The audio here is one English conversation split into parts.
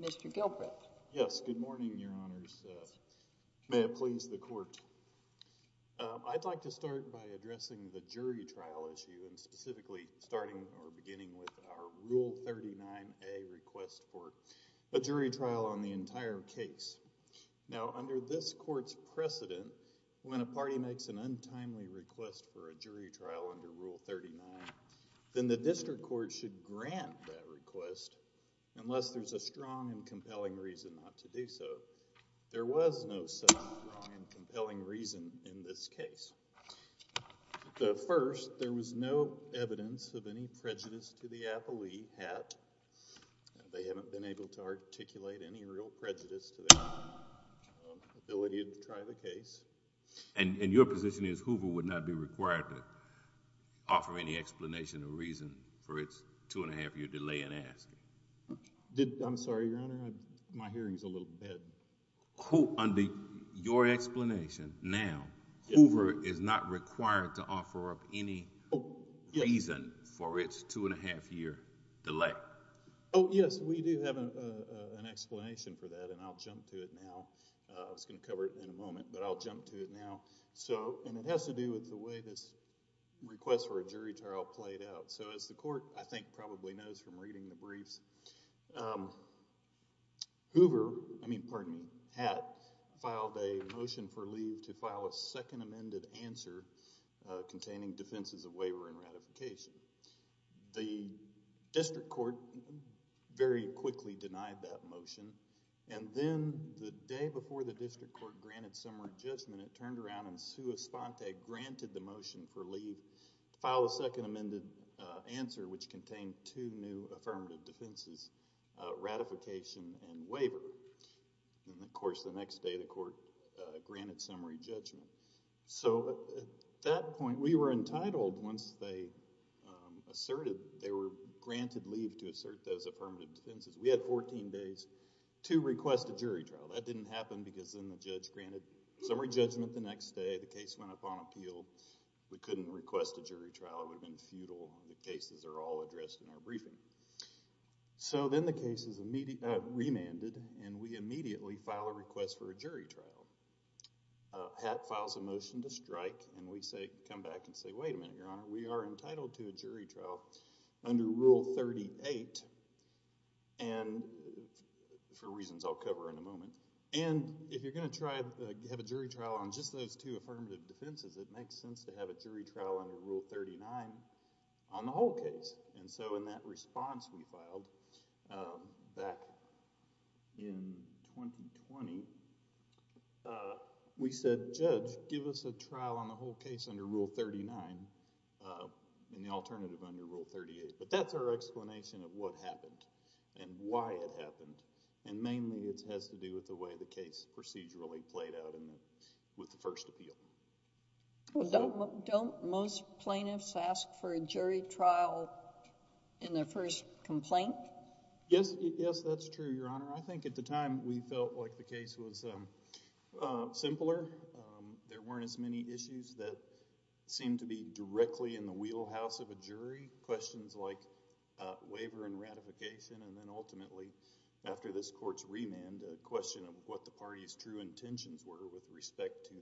Mr. Gilbreth? Yes, good morning, Your Honors. May it please the Court. I'd like to start by addressing the jury trial issue and specifically starting or beginning with our Rule 39A request for a jury trial on the entire case. Now, under this Court's precedent, when a party makes an untimely request for a jury trial under Rule 39, then the District Court should grant that request unless there's a strong and compelling reason not to do so. There was no such strong and compelling reason in this case. The first, there was no evidence of any prejudice to the appellee, HAT. They haven't been able to articulate any real prejudice to their ability to try the case. And your position is Hoover would not be required to offer any explanation or reason for its two-and-a-half-year delay in asking? I'm sorry, Your Honor, my hearing's a little bad. Under your explanation, now, Hoover is not required to offer up any reason for its two-and-a-half-year delay? Oh, yes, we do have an explanation for that, and I'll jump to it now. I was going to cover it in a moment, but I'll jump to it now. So, and it has to do with the way this request for a jury trial played out. So, as the Court, I think, probably knows from reading the briefs, Hoover, I mean, pardon me, HAT, filed a motion for leave to file a second amended answer containing defenses of waiver and ratification. The District Court very quickly denied that motion, and then the day before the District Court granted summary judgment, it turned to Spontag, granted the motion for leave to file a second amended answer which contained two new affirmative defenses, ratification and waiver. And, of course, the next day the Court granted summary judgment. So, at that point, we were entitled, once they asserted, they were granted leave to assert those affirmative defenses. We had 14 days to request a jury trial. That didn't happen because then the judge granted summary judgment the next day, the case went up on appeal. We couldn't request a jury trial. It would have been futile. The cases are all addressed in our briefing. So, then the case is remanded, and we immediately file a request for a jury trial. HAT files a motion to strike, and we say, come back and say, wait a minute, Your Honor, we are entitled to a jury trial under Rule 38 and, for reasons I'll cover in a moment, and if you're going to try to have a jury trial on just those two affirmative defenses, it makes sense to have a jury trial under Rule 39 on the whole case. And so, in that response we filed back in 2020, we said, Judge, give us a trial on the whole case under Rule 39 and the alternative under Rule 38. But that's our explanation of what happened and why it happened, and mainly it has to do with the way the case procedurally played out with the first appeal. Well, don't most plaintiffs ask for a jury trial in their first complaint? Yes, that's true, Your Honor. I think at the time we felt like the case was simpler. There weren't as many issues that seemed to be directly in the wheelhouse of a jury, questions like waiver and ratification, and then ultimately, after this court's remand, a question of what the party's true intentions were with respect to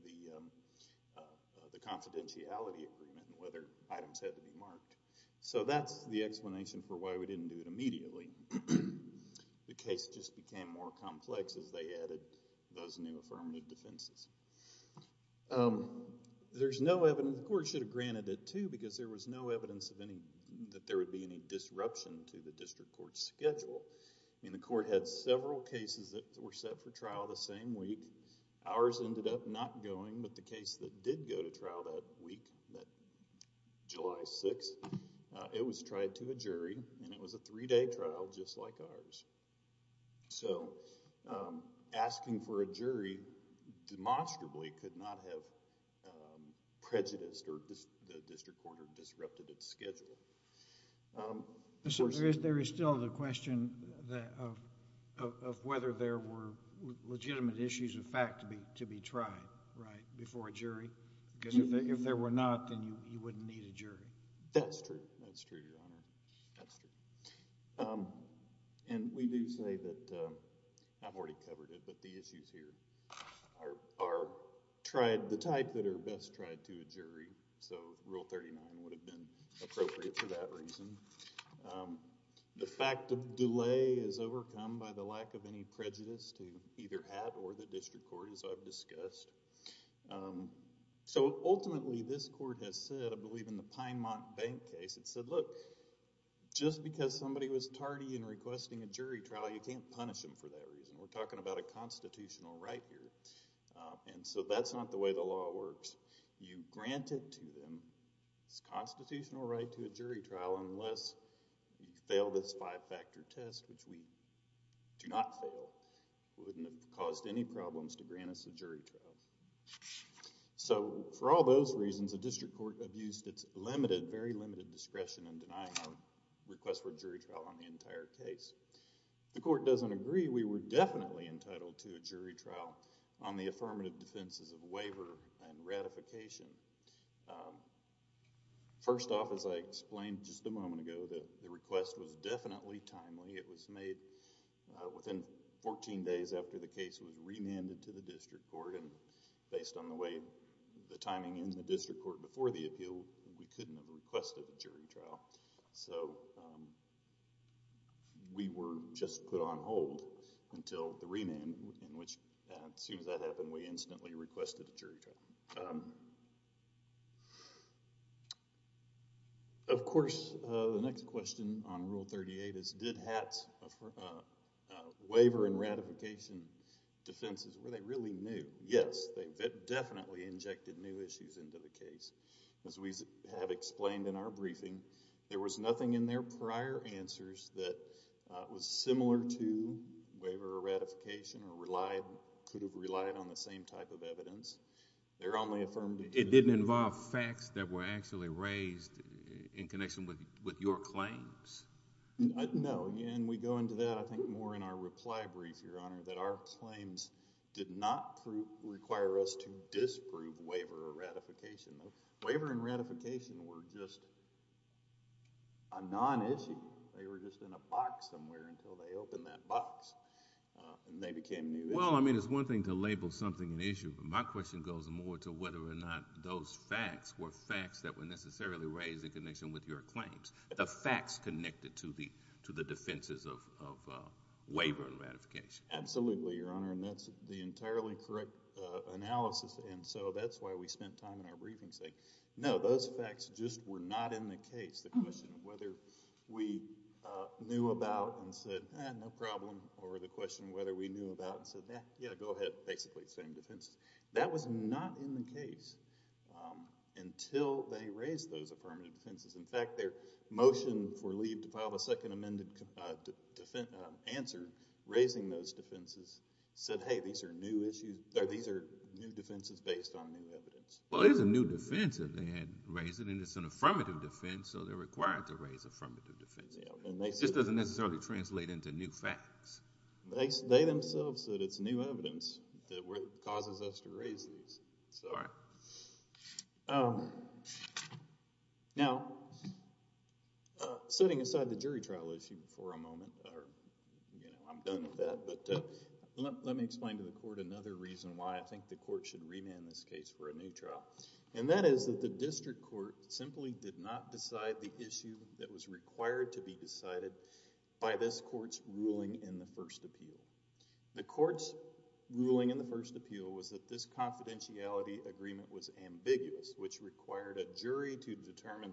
the confidentiality agreement and whether items had to be marked. So that's the explanation for why we didn't do it immediately. The case just became more complex as they added those new affirmative defenses. There's no evidence, the court should have granted it too, because there was no evidence that there would be any disruption to the district court's schedule. I mean, the court had several cases that were set for trial the same week. Ours ended up not going, but the case that did go to trial that week, that July 6th, it was tried to a jury and it was a three-day trial just like ours. So, asking for a jury demonstrably could not have prejudiced or the district court had disrupted its schedule. So, there is still the question of whether there were legitimate issues of fact to be tried, right, before a jury? Because if there were not, then you wouldn't need a jury. That's true. That's true, Your Honor. That's true. And we do say that, I've already covered it, but the issues here are tried, the type that are best tried to a jury. So, Rule 39 would have been appropriate for that reason. The fact of delay is overcome by the lack of any prejudice to either have or the district court, as I've discussed. So, ultimately, this court has said, I believe, in the Pinemont Bank case, it said, look, just because somebody was tardy in requesting a jury trial, you can't punish them for that reason. We're talking about a constitutional right here. And so, that's not the way the law works. You grant it to them. It's a constitutional right to a jury trial unless you fail this five-factor test, which we do not fail. It wouldn't have caused any problems to grant us a jury trial. So, for all those reasons, the district court abused its limited, very limited discretion in denying our request for a jury trial on the entire case. If the court doesn't agree, we were definitely entitled to a jury trial on the affirmative defenses of waiver and ratification. First off, as I explained just a moment ago, that the request was definitely timely. It was made within 14 days after the case was remanded to the district court, and based on the way the timing in the district court before the appeal, we couldn't have requested a jury trial. So, we were just put on hold until the remand, in which, as soon as that happened, we instantly requested a jury trial. Of course, the next question on Rule 38 is, did HATS waiver and ratification defenses, were they really new? Yes, they definitely injected new issues into the case. As we have explained in our briefing, there was nothing in their prior answers that was similar to waiver or ratification or could have relied on the same type of evidence. They're only affirmed— It didn't involve facts that were actually raised in connection with your claims? No, and we go into that, I think, more in our reply brief, Your Honor, that our claims did not require us to disprove waiver or ratification. Waiver and ratification were just a non-issue. They were just in a box somewhere until they opened that box, and they became new issues. Well, I mean, it's one thing to label something an issue, but my question goes more to whether or not those facts were facts that were necessarily raised in connection with your claims, the facts connected to the defenses of waiver and ratification. Absolutely, Your Honor, and that's the entirely correct analysis, and so that's why we spent time in our briefing saying, no, those facts just were not in the case. The question of whether we knew about and said, eh, no problem, or the question of whether we knew about and said, yeah, go ahead, basically the same defenses. That was not in the case until they raised those affirmative defenses. In fact, their motion for leave to file the second amended answer, raising those defenses, said, hey, these are new defenses based on new evidence. Well, it is a new defense that they had raised, and it's an affirmative defense, so they're required to raise affirmative defenses. It just doesn't necessarily translate into new facts. They themselves said it's new evidence that causes us to raise these. Now, setting aside the jury trial issue for a moment, I'm done with that, but let me explain to the court another reason why I think the court should remand this case for a new trial, and that is that the district court simply did not decide the issue that was required to be decided by this court's ruling in the first appeal. The court's ruling in the first appeal was that this confidentiality agreement was ambiguous, which required a jury to determine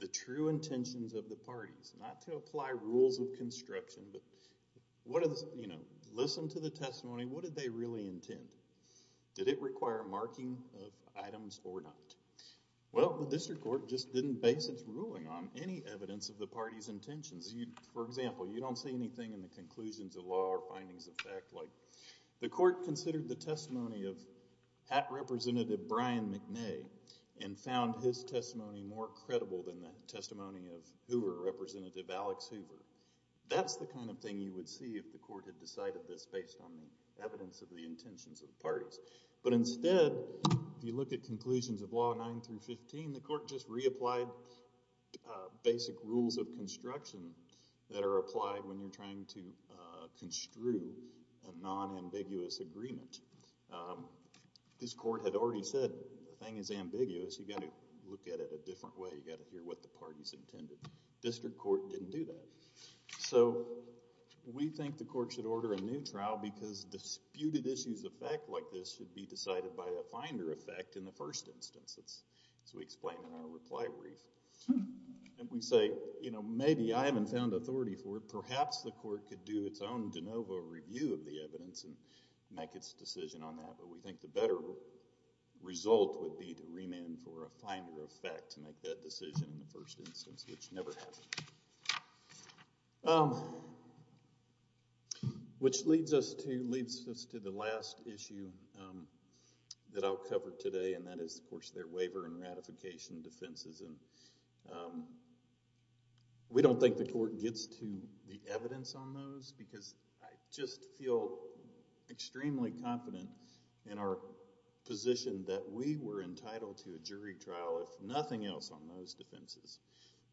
the true intentions of the parties, not to apply rules of construction, but listen to the testimony. What did they really intend? Did it require marking of items or not? Well, the district court just didn't base its ruling on any evidence of the findings of fact. The court considered the testimony of hat representative Brian McNay and found his testimony more credible than the testimony of Hoover representative Alex Hoover. That's the kind of thing you would see if the court had decided this based on the evidence of the intentions of the parties, but instead, if you look at conclusions of law 9 through 15, the court just reapplied basic rules of construction that are applied when you're construing a non-ambiguous agreement. This court had already said the thing is ambiguous. You've got to look at it a different way. You've got to hear what the parties intended. District court didn't do that, so we think the court should order a new trial because disputed issues of fact like this should be decided by a finder effect in the first instance, as we explain in our reply brief, and we say, you know, maybe I haven't found authority for it. Perhaps the court could do its own de novo review of the evidence and make its decision on that, but we think the better result would be to remand for a finder effect to make that decision in the first instance, which never happened, which leads us to the last issue that I'll cover today, and that is, of course, their waiver and ratification defenses, and we don't think the court gets to the evidence on those because I just feel extremely confident in our position that we were entitled to a jury trial, if nothing else, on those defenses,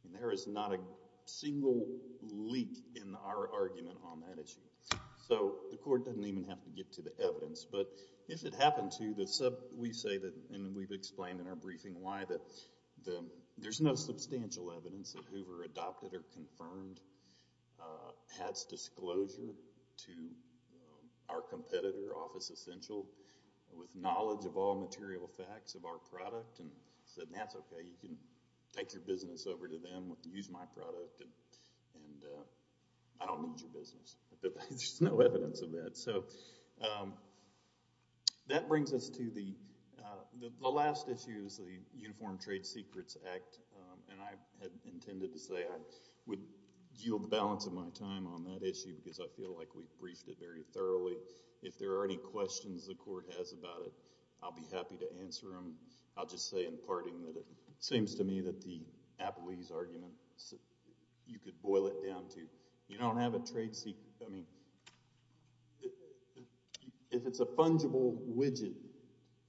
and there is not a single leak in our argument on that issue, so the court doesn't even have to get to the evidence, but if it happened to, we say that, and we've explained in our briefing why there's no substantial evidence that Hoover adopted or confirmed Hatt's disclosure to our competitor, Office Essential, with knowledge of all material facts of our product, and said, that's okay, you can take your business over to them, use my product, and I don't need your business. There's no evidence of that, so that brings us to the last issue is the Uniform Trade Secrets Act, and I had intended to say I would yield the balance of my time on that issue because I feel like we briefed it very thoroughly. If there are any questions the court has about it, I'll be happy to answer them. I'll just say in parting that it seems to me that the Apoese argument, you could boil it down to, you don't have a trade secret. I mean, if it's a fungible widget,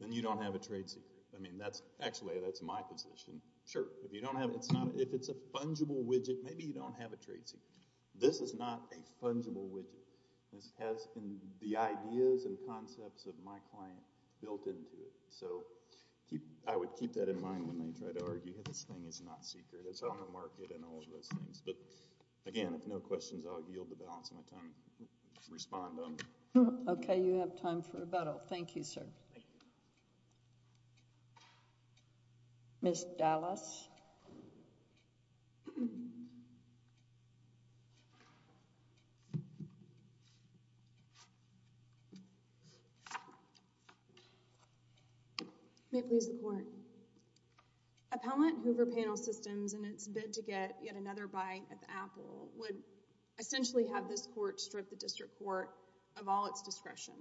then you don't have a trade secret. I mean, that's actually, that's my position. Sure, if you don't have it, it's not. If it's a fungible widget, maybe you don't have a trade secret. This is not a fungible widget. This has been the ideas and concepts of my client built into it, so I would keep that in mind when they try to argue that this thing is not secret. It's on the market and all of those things, but again, if no questions, I'll yield the balance of my time to respond to them. Okay, you have time for rebuttal. Thank you, sir. Ms. Dallas. May it please the court. Appellant Hoover Panel Systems in its bid to get yet another bite at the Apple would essentially have this court strip the district court of all its discretion.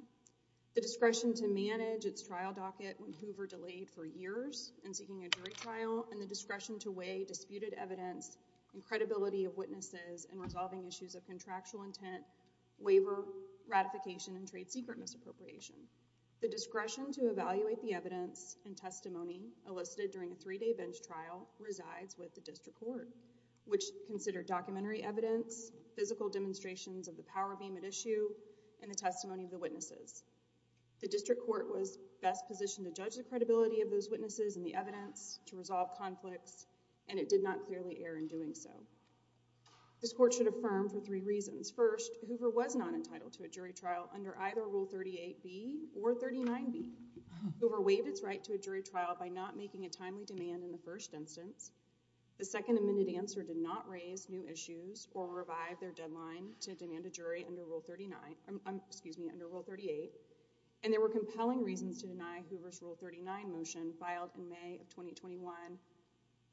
The discretion to manage its trial docket when Hoover delayed for years in seeking a jury trial and the discretion to weigh disputed evidence and credibility of witnesses in resolving issues of contractual intent, waiver, ratification, and trade secret misappropriation. The discretion to evaluate the evidence and testimony elicited during a three-day bench trial resides with the district court, which considered documentary evidence, physical demonstrations of the power beam at issue, and the testimony of the witnesses. The district court was best positioned to judge the credibility of those witnesses and the evidence to resolve conflicts, and it did not clearly err in doing so. This court should affirm for three reasons. First, Hoover was not entitled to a jury trial under either Rule 38B or 39B. Hoover waived its right to a jury trial by not making a timely demand in the first instance. The second amended answer did not raise new issues or revive their deadline to demand a jury under Rule 39, excuse me, under Rule 38, and there were filed in May of 2021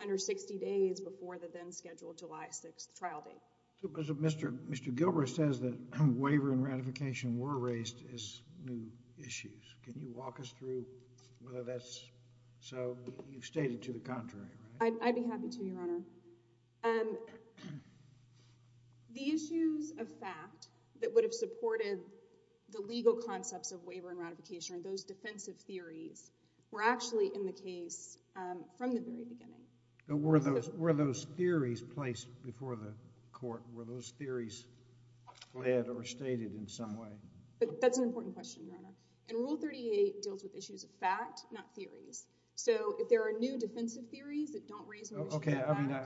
under 60 days before the then-scheduled July 6th trial date. Mr. Gilbert says that waiver and ratification were raised as new issues. Can you walk us through whether that's so? You've stated to the contrary, right? I'd be happy to, Your Honor. The issues of fact that would have supported the legal concepts of waiver and ratification and those defensive theories were actually in the case from the very beginning. Were those theories placed before the court? Were those theories led or stated in some way? That's an important question, Your Honor. And Rule 38 deals with issues of fact, not theories. So, if there are new defensive theories that don't raise an issue of fact... Okay. I mean,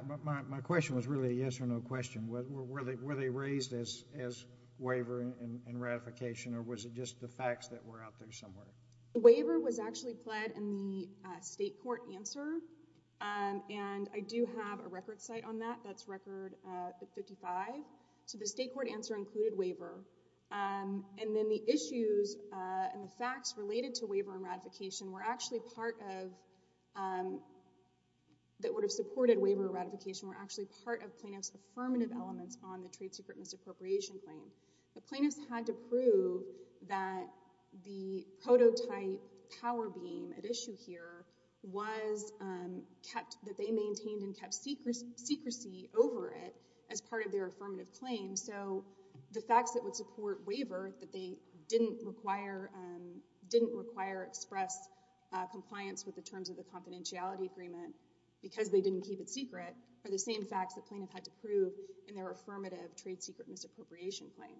my question was really a yes or no question. Were they raised as waiver and ratification, or was it just the facts that were out there somewhere? The waiver was actually pled in the state court answer, and I do have a record site on that. That's Record 55. So, the state court answer included waiver, and then the issues and the facts related to waiver and ratification were actually part of... that would have supported waiver and ratification were actually part of plaintiff's affirmative elements on the secret misappropriation claim. The plaintiffs had to prove that the prototype power beam at issue here was kept... that they maintained and kept secrecy over it as part of their affirmative claim. So, the facts that would support waiver that they didn't require... didn't require express compliance with the terms of the confidentiality agreement because they didn't keep it secret are the same facts that plaintiff had to prove in their affirmative trade secret misappropriation claim.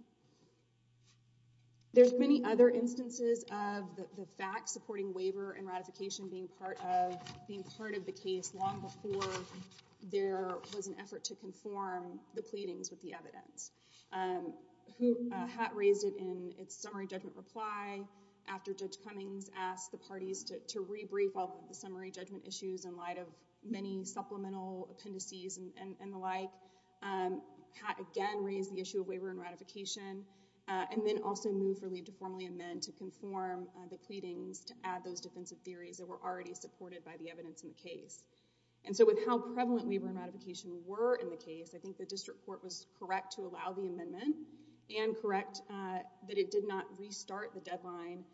There's many other instances of the facts supporting waiver and ratification being part of... being part of the case long before there was an effort to conform the pleadings with the evidence. Who... Hatt raised it in its summary judgment reply after Judge Cummings asked the parties to and the like. Hatt again raised the issue of waiver and ratification and then also moved for leave to formally amend to conform the pleadings to add those defensive theories that were already supported by the evidence in the case. And so, with how prevalent waiver and ratification were in the case, I think the district court was correct to allow the amendment and correct that it did not restart the deadline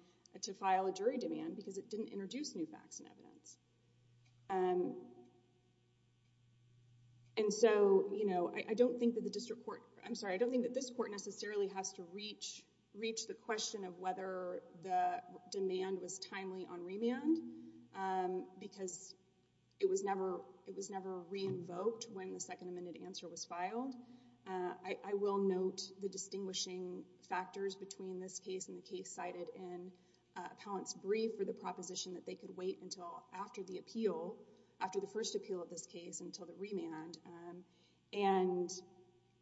to file a jury demand because it didn't introduce new facts and evidence. And so, you know, I don't think that the district court... I'm sorry, I don't think that this court necessarily has to reach... reach the question of whether the demand was timely on remand because it was never... it was never re-invoked when the second amended answer was filed. I will note the distinguishing factors between this case and the case cited in Appellant's brief for the proposition that they could wait until after the appeal... after the first appeal of this case until the remand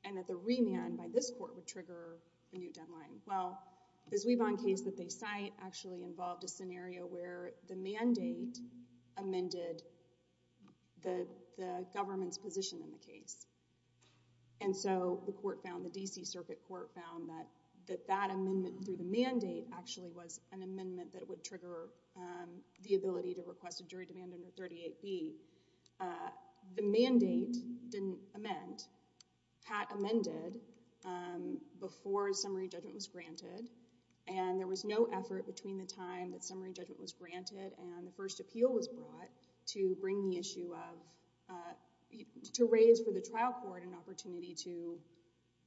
and that the remand by this court would trigger a new deadline. Well, the Zwieband case that they cite actually involved a scenario where the mandate amended the government's position in the case. And so, the court found... the D.C. Circuit Court found that that amendment through the mandate actually was an amendment that would trigger the ability to request a jury demand under 38B. The mandate didn't amend. Pat amended before summary judgment was granted and there was no effort between the time that summary judgment was granted and the first appeal was brought to bring the issue of... to raise for the trial court an opportunity to,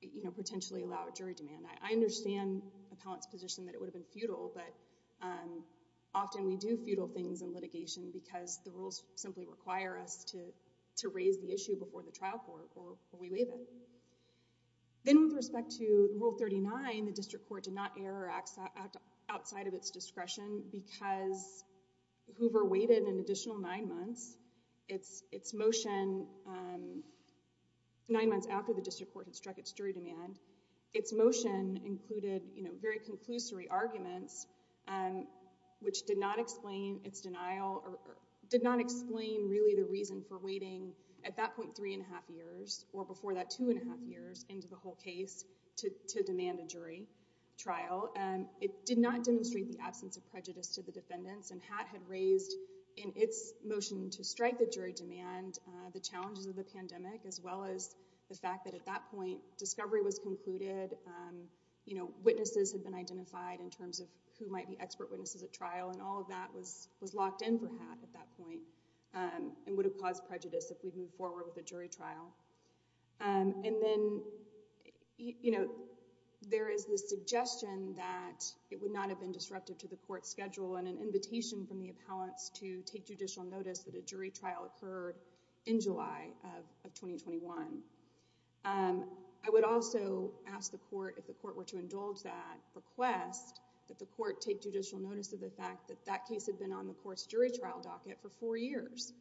you know, potentially allow a jury demand. I understand Appellant's position that it would have been futile, but often we do futile things in litigation because the rules simply require us to raise the issue before the trial court or we waive it. Then with respect to Rule 39, the district court did not err or act outside of its discretion because Hoover waited an additional nine months. Its motion nine months after the district court struck its jury demand, its motion included, you know, very conclusory arguments which did not explain its denial or did not explain really the reason for waiting at that point three and a half years or before that two and a half years into the whole case to demand a jury trial. It did not demonstrate the absence of prejudice to the defendants and Pat had raised in its motion to discovery was concluded, you know, witnesses had been identified in terms of who might be expert witnesses at trial and all of that was locked in for Pat at that point and would have caused prejudice if we'd moved forward with a jury trial. And then, you know, there is the suggestion that it would not have been disruptive to the court schedule and an invitation from the I would also ask the court if the court were to indulge that request that the court take judicial notice of the fact that that case had been on the court's jury trial docket for four years.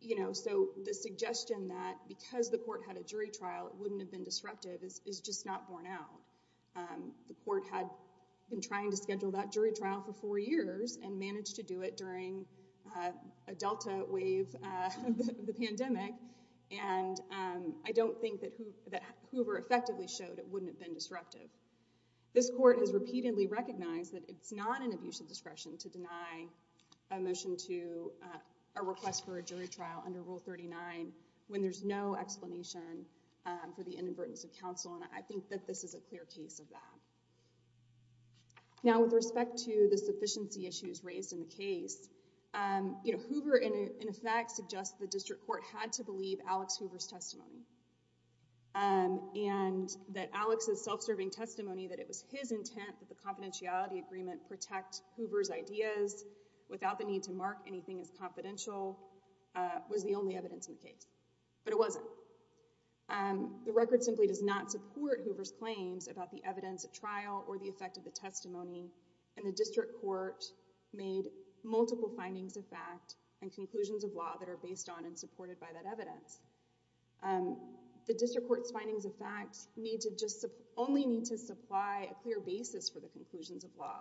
You know, so the suggestion that because the court had a jury trial it wouldn't have been disruptive is just not borne out. The court had been trying to schedule that jury trial for four and I don't think that Hoover effectively showed it wouldn't have been disruptive. This court has repeatedly recognized that it's not an abuse of discretion to deny a motion to a request for a jury trial under Rule 39 when there's no explanation for the inadvertence of counsel and I think that this is a clear case of that. Now, with respect to the sufficiency issues raised in the case, you know, Hoover in effect suggests the district court had to believe Alex Hoover's testimony and that Alex's self-serving testimony that it was his intent that the confidentiality agreement protect Hoover's ideas without the need to mark anything as confidential was the only evidence in the case. But it wasn't. The record simply does not support Hoover's claims about the evidence at trial or the effect of the testimony and the district court made multiple findings of fact and conclusions of law that are based on and supported by that evidence. The district court's findings of fact need to just only need to supply a clear basis for the conclusions of law.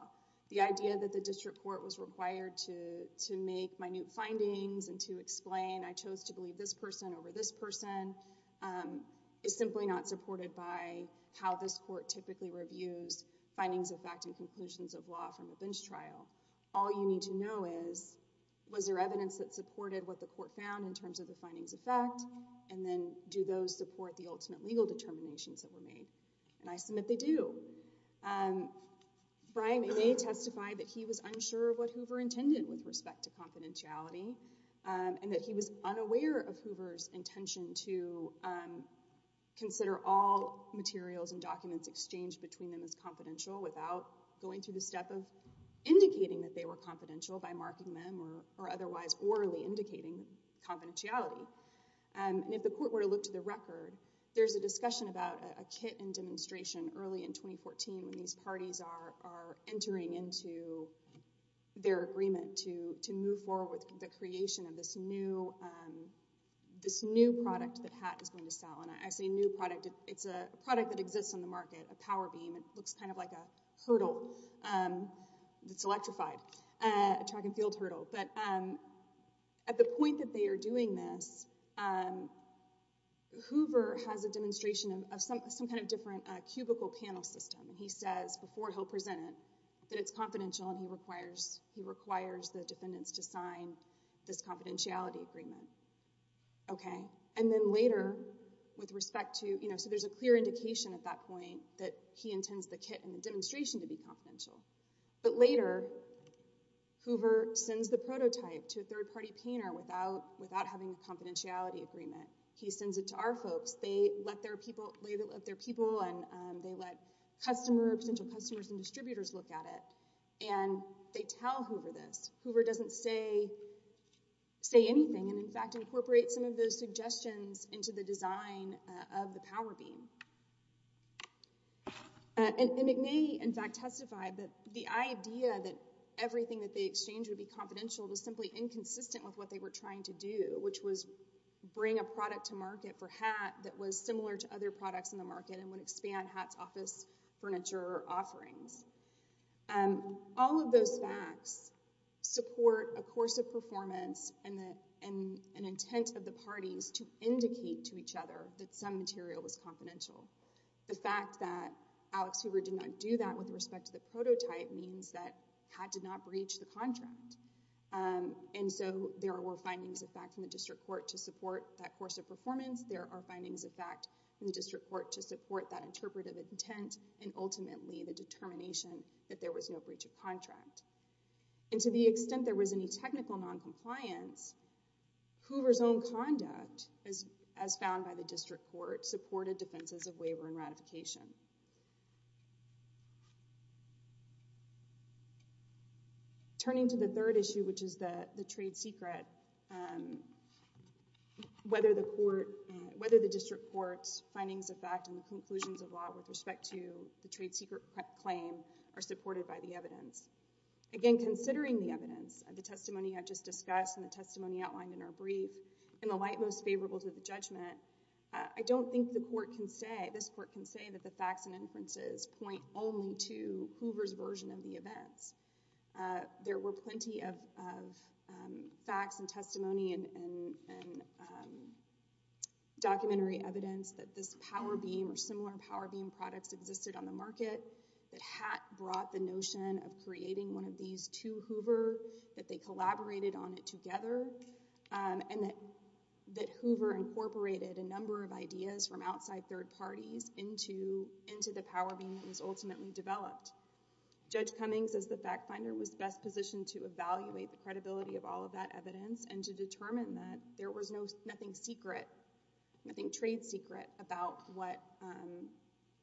The idea that the district court was required to to make minute findings and to explain I chose to believe this person over this person is simply not supported by how this court typically reviews findings of fact and conclusions of law from a bench trial. All you need to know is was there evidence that supported what the court found in terms of the findings of fact and then do those support the ultimate legal determinations that were made? And I submit they do. Brian Maynay testified that he was unsure of what Hoover intended with respect to confidentiality and that he was unaware of Hoover's intention to consider all materials and documents exchanged between them as confidential without going through the step of indicating that they were confidential by marking them or otherwise orally indicating confidentiality. And if the court were to look to the record there's a discussion about a kit and demonstration early in 2014 when these parties are are entering into their agreement to to move forward with the creation of this new um this new product that HAT is going to sell and I say new product it's a product that exists on the market a power beam it looks kind of like a hurdle um it's electrified a track and field hurdle but um at the point that they are doing this um Hoover has a demonstration of some some kind of different uh cubicle panel system and he says before he'll present it that it's confidential and he requires he requires the defendants to sign this confidentiality agreement. Okay and then later with respect to you know so there's a clear indication at that point that he intends the kit and the demonstration to be confidential but later Hoover sends the prototype to a third-party painter without without having a confidentiality agreement he sends it to our folks they let their people they let their people and they let customer potential customers and distributors look at it and they tell Hoover this Hoover doesn't say say anything and in fact incorporate some of those suggestions into the the idea that everything that they exchanged would be confidential was simply inconsistent with what they were trying to do which was bring a product to market for HAT that was similar to other products in the market and would expand HAT's office furniture offerings and all of those facts support a course of performance and the and an intent of the parties to indicate to each other that some material was confidential the fact that Alex Hoover did not do that with respect to the prototype means that HAT did not breach the contract and so there were findings of fact in the district court to support that course of performance there are findings of fact in the district court to support that interpretive intent and ultimately the determination that there was no breach of contract and to the extent there was any technical non-compliance Hoover's own conduct as as found by the district court supported defenses of waiver and ratification turning to the third issue which is the the trade secret um whether the court whether the district court's findings of fact and the conclusions of law with respect to the trade secret claim are supported by the evidence again considering the evidence and the testimony I've just discussed and the testimony outlined in our brief in the light most favorable to the judgment I don't think the court can say this court can say that the facts and inferences point only to Hoover's version of the events there were plenty of facts and testimony and documentary evidence that this power beam or similar power beam products existed on the market that HAT brought the notion of creating one of these to Hoover that they collaborated on it um and that that Hoover incorporated a number of ideas from outside third parties into into the power beam that was ultimately developed Judge Cummings as the fact finder was best positioned to evaluate the credibility of all of that evidence and to determine that there was no nothing secret nothing trade secret about what um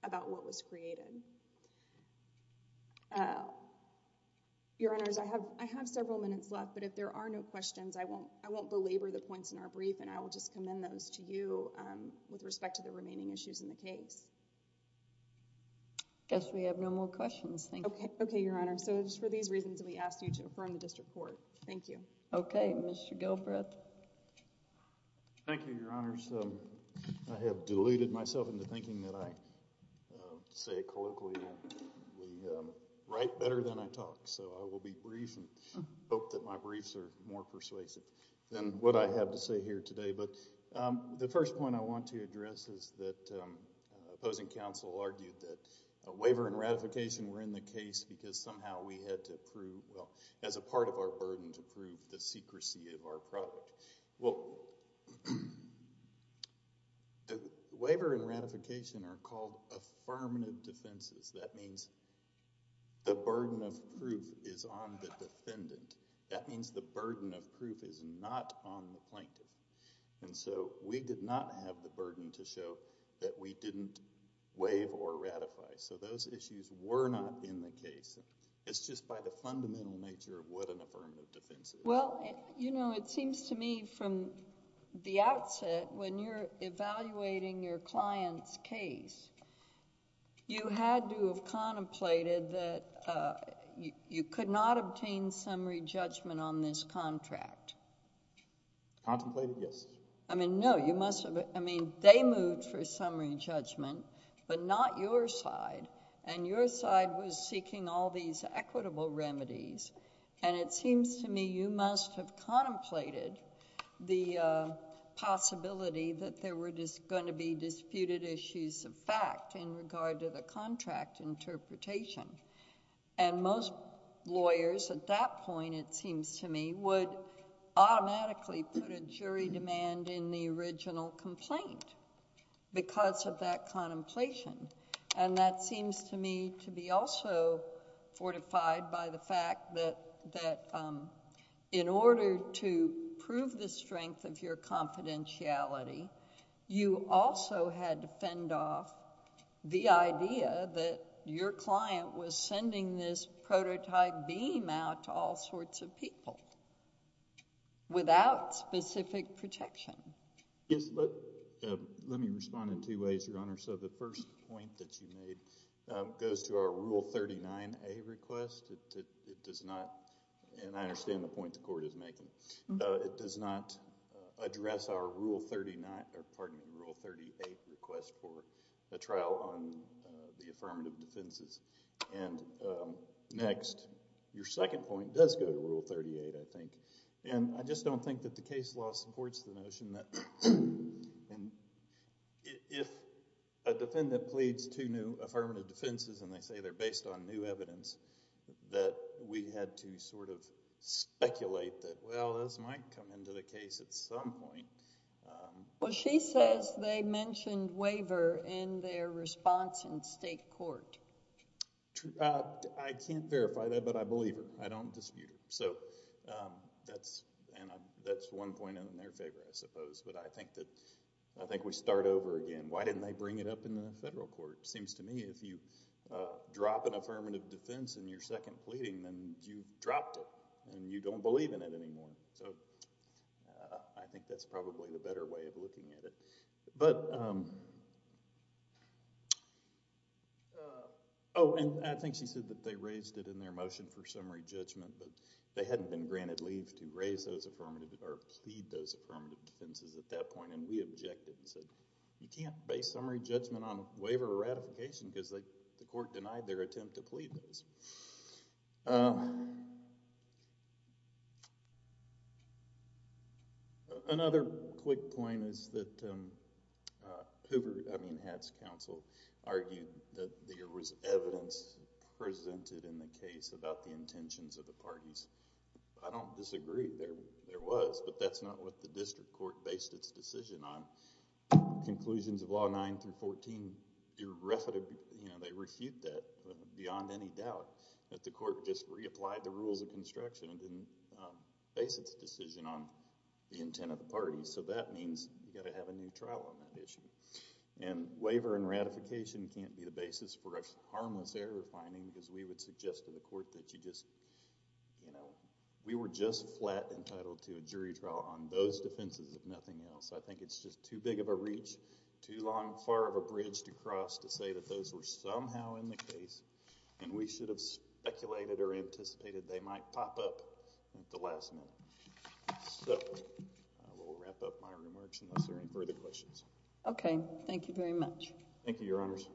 about what was created uh your honors I have I have several minutes left but if there are no questions I won't I won't belabor the points in our brief and I will just commend those to you um with respect to the remaining issues in the case I guess we have no more questions thank you okay okay your honor so just for these reasons we asked you to affirm the district court thank you okay Mr. Gilbreth thank you your honors um I have deluded myself into thinking that I say colloquially we um write better than I talk so I will be brief and hope that my briefs are more persuasive than what I have to say here today but um the first point I want to address is that um opposing counsel argued that a waiver and ratification were in the case because somehow we had to prove well as a part of our burden to prove the secrecy of our product well the waiver and ratification are called affirmative defenses that means the burden of proof is on the defendant that means the burden of proof is not on the plaintiff and so we did not have the burden to show that we didn't waive or ratify so those issues were not in the case it's just by the fundamental nature of what an affirmative defense is well you know it seems to me from the outset when you're evaluating your client's case you had to have contemplated that uh you could not obtain summary judgment on this contract contemplated yes I mean no you must have I mean they moved for summary judgment but not your side and your side was seeking all these equitable remedies and it seems to me you must have contemplated the uh possibility that there were just going to be disputed issues of fact in regard to the contract interpretation and most lawyers at that point it seems to me would automatically put a original complaint because of that contemplation and that seems to me to be also fortified by the fact that that um in order to prove the strength of your confidentiality you also had to fend off the idea that your client was sending this prototype beam out to all sorts of people without specific protection yes let me respond in two ways your honor so the first point that you made goes to our rule 39a request it does not and I understand the point the court is making it does not address our rule 39 or pardon rule 38 request for a trial on the affirmative defenses and next your second point does go to rule 38 I think and I just don't think that the case law supports the notion that and if a defendant pleads two new affirmative defenses and they say they're based on new evidence that we had to sort of speculate that well this might come into the case at some point well she says they mentioned waiver in their response in state court I can't verify that but I believe her I don't dispute her so um that's and that's one point in their favor I suppose but I think that I think we start over again why didn't they bring it up in the federal court seems to me if you uh drop an affirmative defense in your second pleading then you've dropped it and you don't believe in it anymore so I think that's probably the better way of looking at it but um oh and I think she said that they raised it in their motion for summary judgment but they hadn't been granted leave to raise those affirmative or plead those affirmative defenses at that point and we objected and said you can't base summary judgment on waiver or ratification because they the court denied their attempt to plead those another quick point is that Hoover I mean Hatt's counsel argued that there was evidence presented in the case about the intentions of the parties I don't disagree there there was but that's not what the district court based its decision on conclusions of law 9 through 14 irrefutable you know they refute that beyond any doubt that the court just reapplied the rules of construction and didn't base its decision on the intent of the party so that means you got to have a new trial on that issue and waiver and ratification can't be the basis for a harmless error finding because we would suggest to the court that you just you know we were just flat entitled to a jury trial on those defenses if nothing else I think it's just too big of a reach too long far of a bridge to cross to say that those were somehow in the case and we should have speculated or anticipated they might pop up at the last minute so I will wrap up my remarks unless there are any further questions okay thank you very much thank you your honors